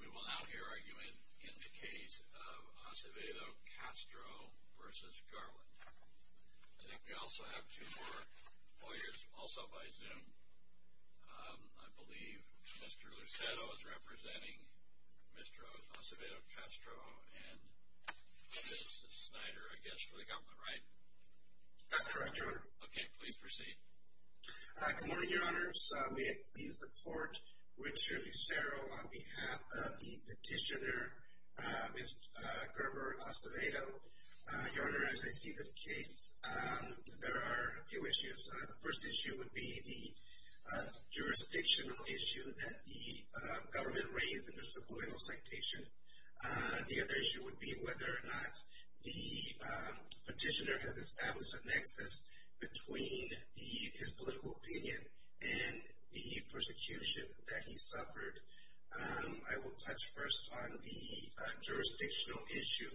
We will now hear argument in the case of Acevedo Castro v. Garland. I think we also have two more lawyers, also by Zoom. I believe Mr. Lucero is representing Mr. Acevedo Castro and Mrs. Snyder, I guess, for the government, right? That's correct, Your Honor. Okay, please proceed. Good morning, Your Honors. May I please report Richard Lucero on behalf of the petitioner, Ms. Gerber Acevedo. Your Honor, as I see this case, there are a few issues. The first issue would be the jurisdictional issue that the government raised in Mr. Blumenthal's citation. The other issue would be whether or not the petitioner has established a nexus between his political opinion and the persecution that he suffered. I will touch first on the jurisdictional issue.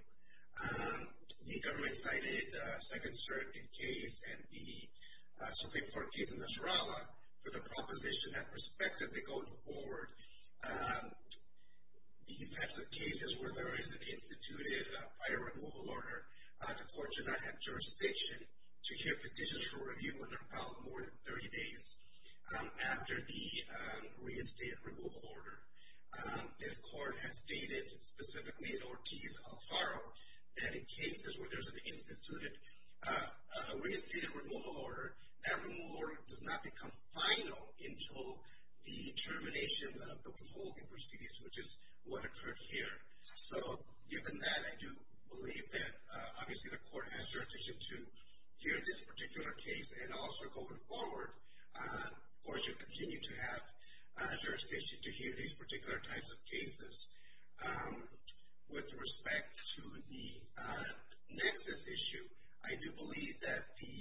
The government cited a second, third case and the Supreme Court case in Nicaragua for the proposition that prospectively going forward, these types of cases where there is an instituted prior removal order, the court should not have jurisdiction to hear petitions for review when they're filed more than 30 days after the reinstated removal order. This court has stated, specifically in Ortiz-Alfaro, that in cases where there's an instituted reinstated removal order, that removal order does not become final until the termination of the withholding proceedings, which is what occurred here. So, given that, I do believe that obviously the court has jurisdiction to hear this particular case. And also going forward, the court should continue to have jurisdiction to hear these particular types of cases. With respect to the nexus issue, I do believe that the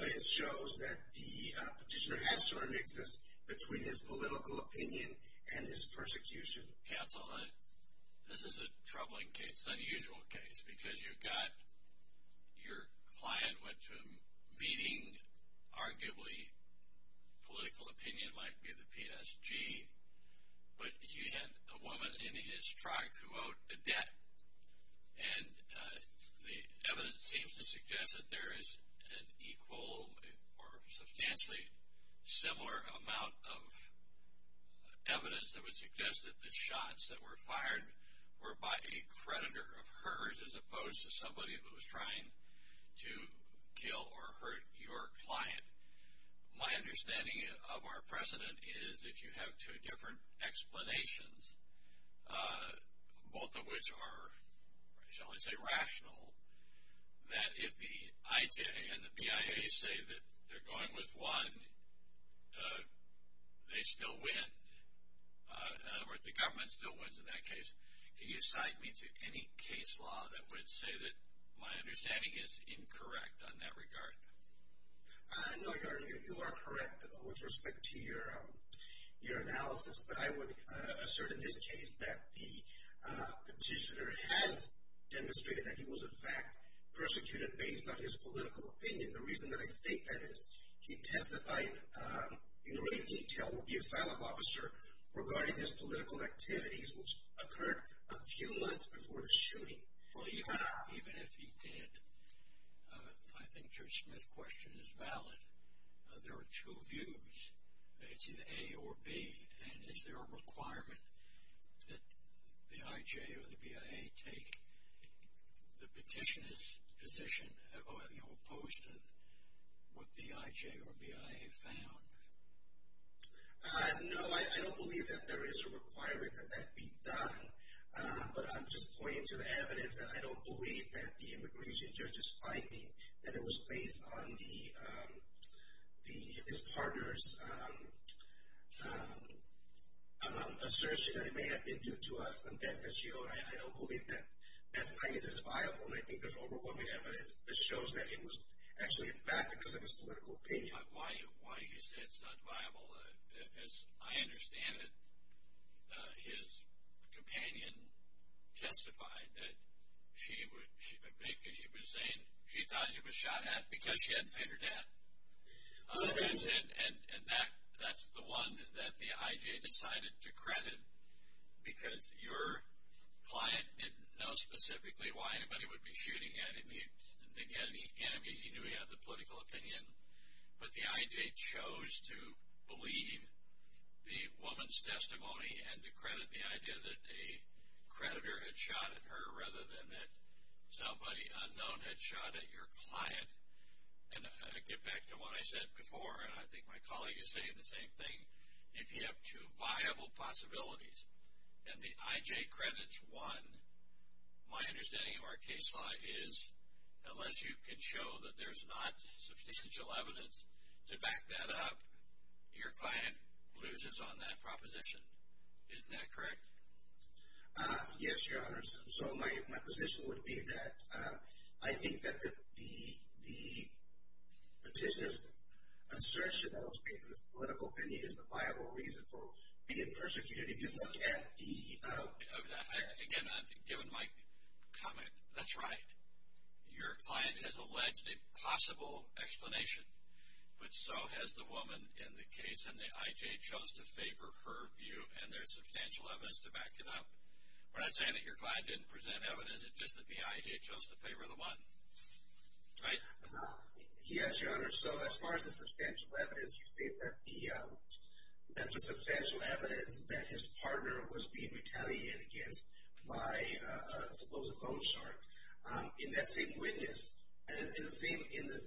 evidence shows that the petitioner has sort of a nexus between his political opinion and his persecution. Counsel, this is a troubling case, unusual case, because you've got your client went to a meeting, arguably political opinion might be the PSG, but he had a woman in his truck who owed a debt. And the evidence seems to suggest that there is an equal or substantially similar amount of evidence that would suggest that the shots that were fired were by a creditor of hers as opposed to somebody who was trying to kill or hurt your client. My understanding of our precedent is, if you have two different explanations, both of which are, shall I say, rational, that if the IJ and the BIA say that they're going with one, they still win. In other words, the government still wins in that case. Can you cite me to any case law that would say that my understanding is incorrect on that regard? No, you are correct with respect to your analysis. But I would assert in this case that the petitioner has demonstrated that he was in fact persecuted based on his political opinion. The reason that I state that is he testified in great detail with the asylum officer regarding his political activities which occurred a few months before the shooting. Well, even if he did, I think Judge Smith's question is valid. There are two views. It's either A or B. And is there a requirement that the IJ or the BIA take the petitioner's position opposed to what the IJ or BIA found? No, I don't believe that there is a requirement that that be done. But I'm just pointing to the evidence. And I don't believe that the immigration judge's finding that it was based on his partner's assertion that it may have been due to some debt that she owed. I don't believe that finding this is viable. And I think there's overwhelming evidence that shows that it was actually in fact because of his political opinion. Why do you say it's not viable? As I understand it, his companion testified that she was saying she thought he was shot at because she had bigger debt. And that's the one that the IJ decided to credit because your client didn't know specifically why anybody would be shooting at him. He didn't have any enemies. He knew he had the political opinion. But the IJ chose to believe the woman's testimony and to credit the idea that a creditor had shot at her rather than that somebody unknown had shot at your client. And I get back to what I said before, and I think my colleague is saying the same thing. If you have two viable possibilities and the IJ credits one, my understanding of our case law is unless you can show that there's not substantial evidence to back that up, your client loses on that proposition. Isn't that correct? Yes, Your Honor. So my position would be that I think that the petitioner's assertion that it was because of his political opinion is the viable reason for being persecuted. If you look at the... Again, given my comment, that's right. Your client has alleged a possible explanation, but so has the woman in the case, and the IJ chose to favor her view and there's substantial evidence to back it up. We're not saying that your client didn't present evidence, it's just that the IJ chose to favor the one. Right? Yes, Your Honor. So as far as the substantial evidence, you state that the... That the substantial evidence that his partner was being retaliated against by a supposed loan shark. In that same witness, in the same... In the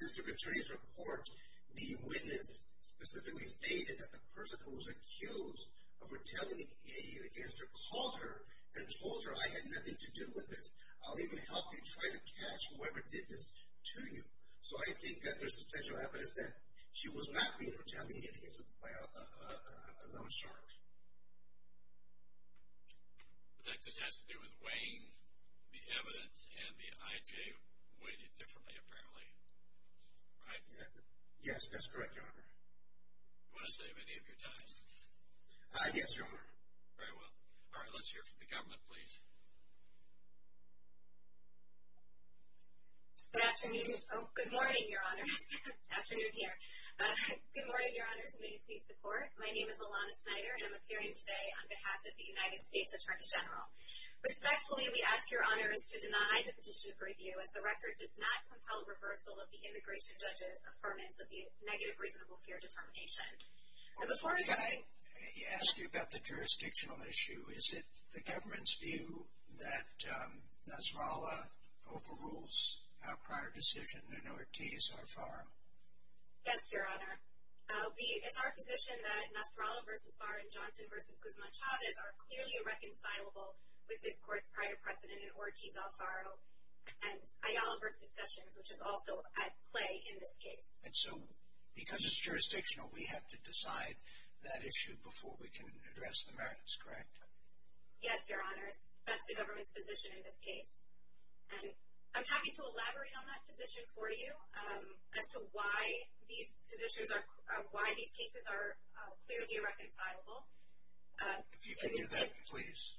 district attorney's report, the witness specifically stated that the person who was accused of retaliating against her called her and told her, I had nothing to do with this, I'll even help you try to catch whoever did this to you. So I think that there's substantial evidence that she was not being retaliated against by a loan shark. But that just has to do with weighing the evidence and the IJ weighed it differently, apparently. Right? Yes, that's correct, Your Honor. Do you want to save any of your time? Yes, Your Honor. Very well. All right, let's hear from the government, please. Good afternoon. Oh, good morning, Your Honors. Afternoon here. Good morning, Your Honors, and may you please report. My name is Alana Snyder and I'm appearing today on behalf of the United States Attorney General. Respectfully, we ask Your Honors to deny the petition for review as the record does not compel reversal of the immigration judge's affirmance of the negative reasonable fear determination. Can I ask you about the jurisdictional issue? Is it the government's view that Nasrallah overrules our prior decision in Ortiz-Alfaro? Yes, Your Honor. It's our position that Nasrallah v. Barr and Johnson v. Guzman-Chavez are clearly irreconcilable with this court's prior precedent in Ortiz-Alfaro and Ayala v. Sessions, which is also at play in this case. And so, because it's jurisdictional, we have to decide that issue before we can address the merits, correct? Yes, Your Honors. That's the government's position in this case. And I'm happy to elaborate on that position for you as to why these cases are clearly irreconcilable. If you can do that, please.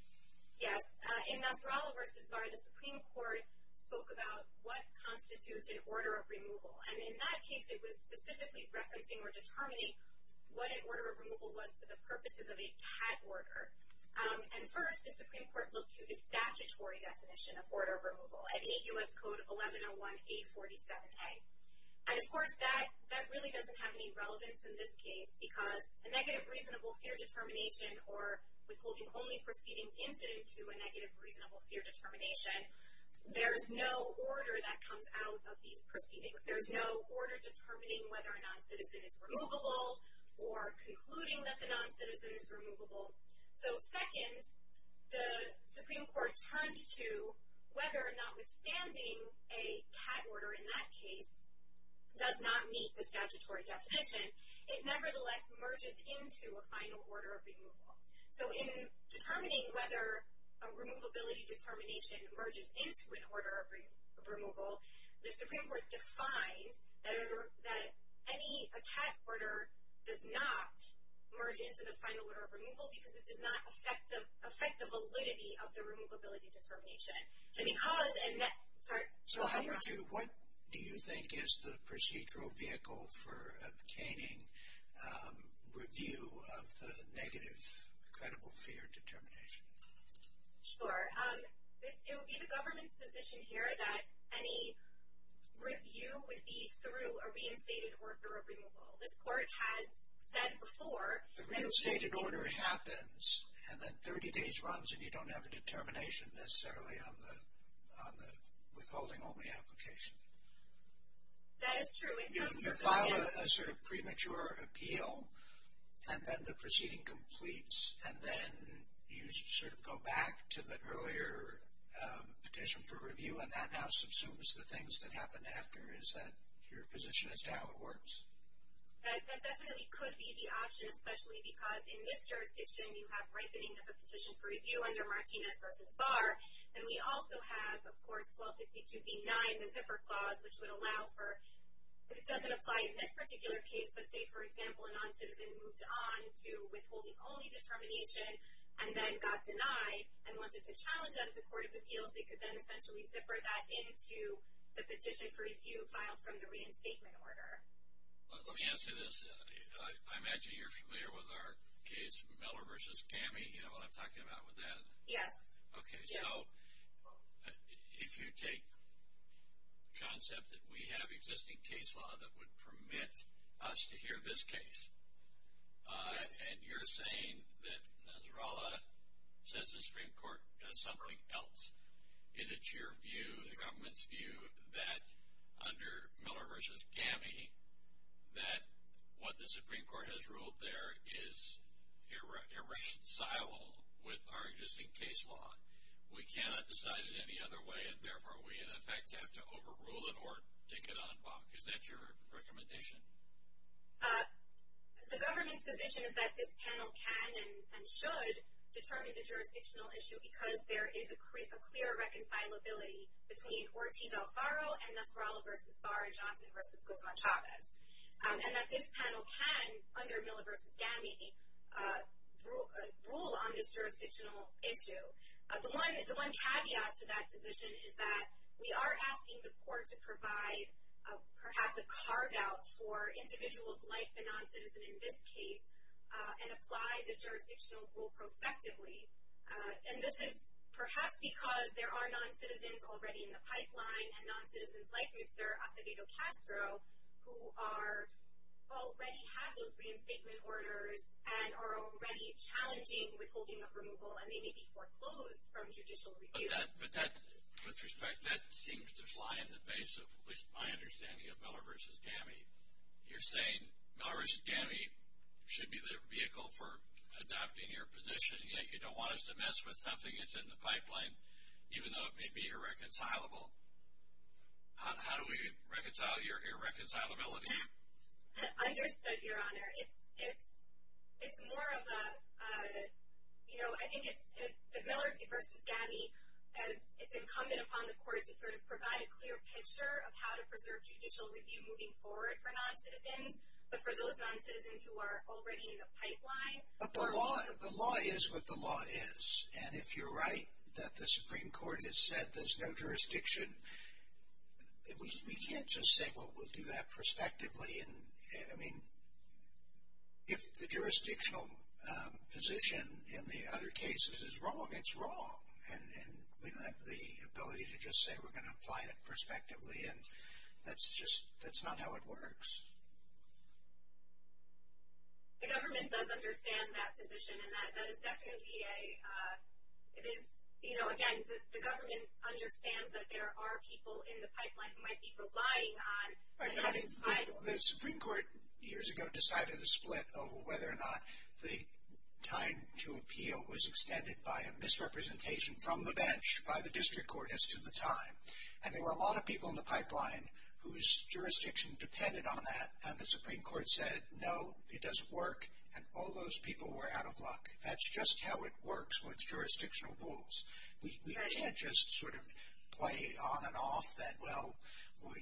Yes. In Nasrallah v. Barr, the Supreme Court spoke about what constitutes an order of removal. And in that case, it was specifically referencing or determining what an order of removal was for the purposes of a cat order. And first, the Supreme Court looked to the statutory definition of order of removal at 8 U.S. Code 1101-847A. And of course, that really doesn't have any relevance in this case because a negative reasonable fear determination or withholding only proceedings incident to a negative reasonable fear determination, there's no order that comes out of these proceedings. There's no order determining whether a noncitizen is removable or concluding that the noncitizen is removable. So second, the Supreme Court turned to whether or not withstanding a cat order in that case does not meet the statutory definition, it nevertheless merges into a final order of removal. So in determining whether a removability determination merges into an order of removal, the Supreme Court defined that any cat order does not merge into the final order of removal because it does not affect the validity of the removability determination. And because – sorry. So what do you think is the procedural vehicle for obtaining review of the negative credible fear determinations? Sure. It would be the government's position here that any review would be through a reinstated order of removal. This court has said before – The reinstated order happens and then 30 days runs and you don't have a determination necessarily on the withholding only application. That is true. You file a sort of premature appeal and then the proceeding completes and then you sort of go back to the earlier petition for review and that now subsumes the things that happened after. Is that your position as to how it works? That definitely could be the option, especially because in this jurisdiction you have ripening of a petition for review under Martinez v. Barr. And we also have, of course, 1252b9, the zipper clause, which would allow for – it doesn't apply in this particular case, but say, for example, a non-citizen moved on to withholding only determination and then got denied and wanted to challenge that at the court of appeals, they could then essentially zipper that into the petition for review filed from the reinstatement order. Let me ask you this. I imagine you're familiar with our case Miller v. Cammey. You know what I'm talking about with that? Yes. Okay. So if you take the concept that we have existing case law that would permit us to hear this case and you're saying that Nasrallah says the Supreme Court does something else, is it your view, the government's view, that under Miller v. Cammey, that what the Supreme Court has ruled there is irreconcilable with our existing case law? We cannot decide it any other way, and therefore we, in effect, have to overrule it or take it on back. Is that your recommendation? The government's position is that this panel can and should determine the jurisdictional issue because there is a clear reconcilability between Ortiz-Alfaro and Nasrallah v. Barr and Johnson v. Gozon-Chavez, and that this panel can, under Miller v. Cammey, rule on this jurisdictional issue. The one caveat to that position is that we are asking the court to provide perhaps a carve-out for individuals like the noncitizen in this case and apply the jurisdictional rule prospectively. And this is perhaps because there are noncitizens already in the pipeline and noncitizens like Mr. Acevedo-Castro who already have those reinstatement orders and are already challenging withholding of removal and they may be foreclosed from judicial review. With respect, that seems to fly in the face of at least my understanding of Miller v. Cammey. You're saying Miller v. Cammey should be the vehicle for adopting your position, yet you don't want us to mess with something that's in the pipeline, even though it may be irreconcilable? How do we reconcile your irreconcilability? Understood, Your Honor. It's more of a, you know, I think it's Miller v. Cammey as it's incumbent upon the court to sort of provide a clear picture of how to preserve judicial review moving forward for noncitizens, but for those noncitizens who are already in the pipeline. But the law is what the law is. And if you're right that the Supreme Court has said there's no jurisdiction, we can't just say, well, we'll do that prospectively. I mean, if the jurisdictional position in the other cases is wrong, it's wrong. And we don't have the ability to just say we're going to apply it prospectively. The government does understand that position, and that is definitely a, it is, you know, again, the government understands that there are people in the pipeline who might be relying on. The Supreme Court years ago decided a split over whether or not the time to appeal was extended by a misrepresentation from the bench by the district court as to the time. And there were a lot of people in the pipeline whose jurisdiction depended on that. And the Supreme Court said, no, it doesn't work. And all those people were out of luck. That's just how it works with jurisdictional rules. We can't just sort of play on and off that, well,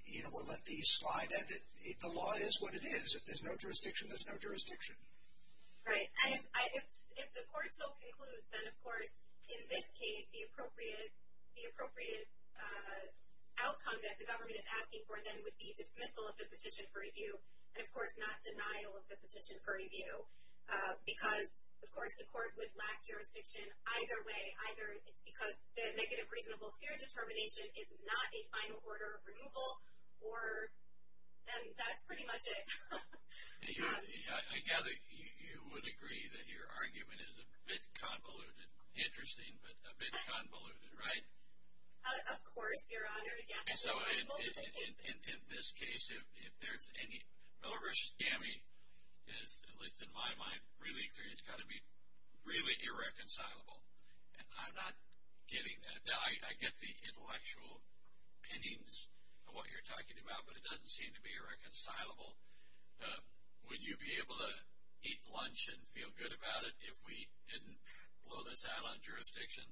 you know, we'll let these slide. And the law is what it is. If there's no jurisdiction, there's no jurisdiction. Right. And if the court so concludes, then, of course, in this case, the appropriate outcome that the government is asking for, then, would be dismissal of the petition for review. And, of course, not denial of the petition for review. Because, of course, the court would lack jurisdiction either way. Either it's because the negative reasonable fear determination is not a final order of renewal, or then that's pretty much it. I gather you would agree that your argument is a bit convoluted. Interesting, but a bit convoluted. Right? Of course, Your Honor. So, in this case, if there's any, Miller v. Gammie is, at least in my mind, really clear. It's got to be really irreconcilable. And I'm not getting that. I get the intellectual pinnings of what you're talking about. But it doesn't seem to be irreconcilable. Would you be able to eat lunch and feel good about it if we didn't blow this out on jurisdiction?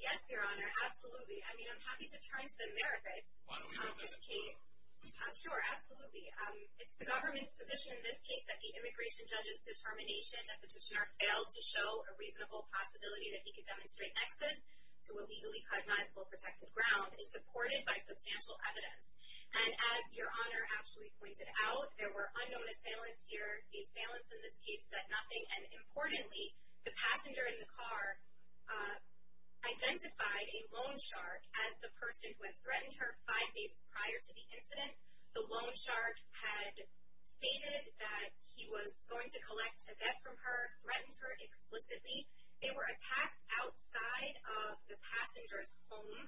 Yes, Your Honor. Absolutely. I mean, I'm happy to turn to the merits of this case. Why don't we go this way? Sure. Absolutely. It's the government's position in this case that the immigration judge's determination that the petitioner failed to show a reasonable possibility that he could demonstrate nexus to a legally cognizable protected ground is supported by substantial evidence. And as Your Honor actually pointed out, there were unknown assailants here. The assailants in this case said nothing. And importantly, the passenger in the car identified a loan shark as the person who had threatened her five days prior to the incident. The loan shark had stated that he was going to collect a debt from her, threatened her explicitly. They were attacked outside of the passenger's home.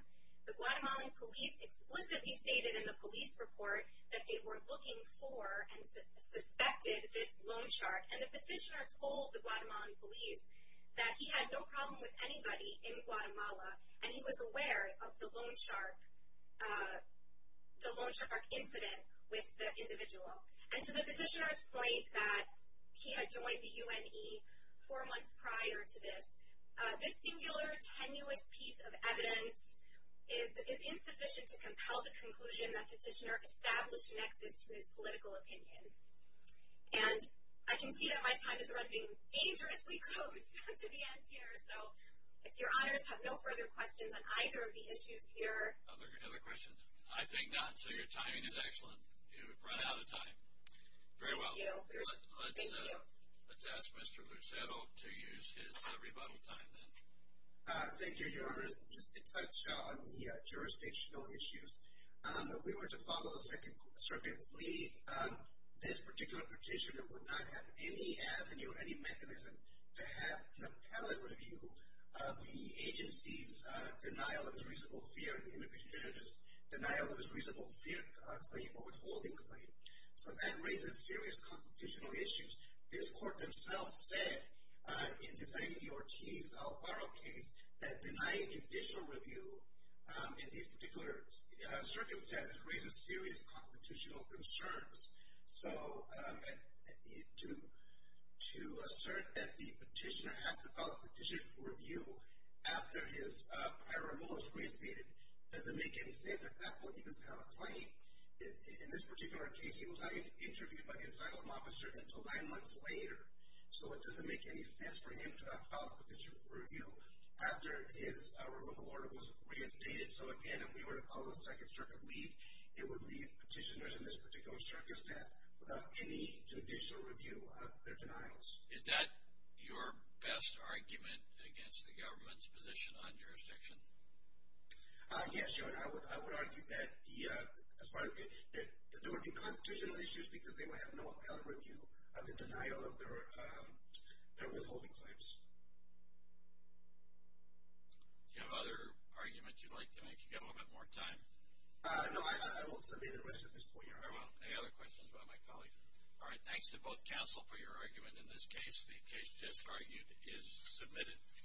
The Guatemalan police explicitly stated in the police report that they were looking for and suspected this loan shark. And the petitioner told the Guatemalan police that he had no problem with anybody in Guatemala, and he was aware of the loan shark incident with the individual. And to the petitioner's point that he had joined the UNE four months prior to this, this singular, tenuous piece of evidence is insufficient to compel the conclusion that petitioner established nexus to his political opinion. And I can see that my time is running dangerously close to the end here, so if Your Honors have no further questions on either of the issues here. Other questions? I think not. So your timing is excellent. You've run out of time. Very well. Let's ask Mr. Lucero to use his rebuttal time then. Thank you, Your Honors. Just to touch on the jurisdictional issues. If we were to follow the Circuit's lead, this particular petitioner would not have any avenue or any mechanism to have an appellate review of the agency's denial of its reasonable fear claim or withholding claim. So that raises serious constitutional issues. This court themselves said, in deciding the Ortiz-Alvaro case, that denying judicial review in these particular circumstances raises serious constitutional concerns. So to assert that the petitioner has to file a petition for review after his prior removal is reinstated, doesn't make any sense at that point. He doesn't have a claim. In this particular case, he was not interviewed by the asylum officer until nine months later. So it doesn't make any sense for him to file a petition for review after his removal order was reinstated. So, again, if we were to follow the Second Circuit lead, it would leave petitioners in this particular circumstance without any judicial review of their denials. Is that your best argument against the government's position on jurisdiction? Yes, Your Honor. I would argue that there would be constitutional issues because they would have no appellate review of the denial of their withholding claims. Do you have other arguments you'd like to make? You've got a little bit more time. No, I will submit the rest at this point, Your Honor. Very well. Any other questions by my colleagues? All right, thanks to both counsel for your argument in this case. The case just argued is submitted.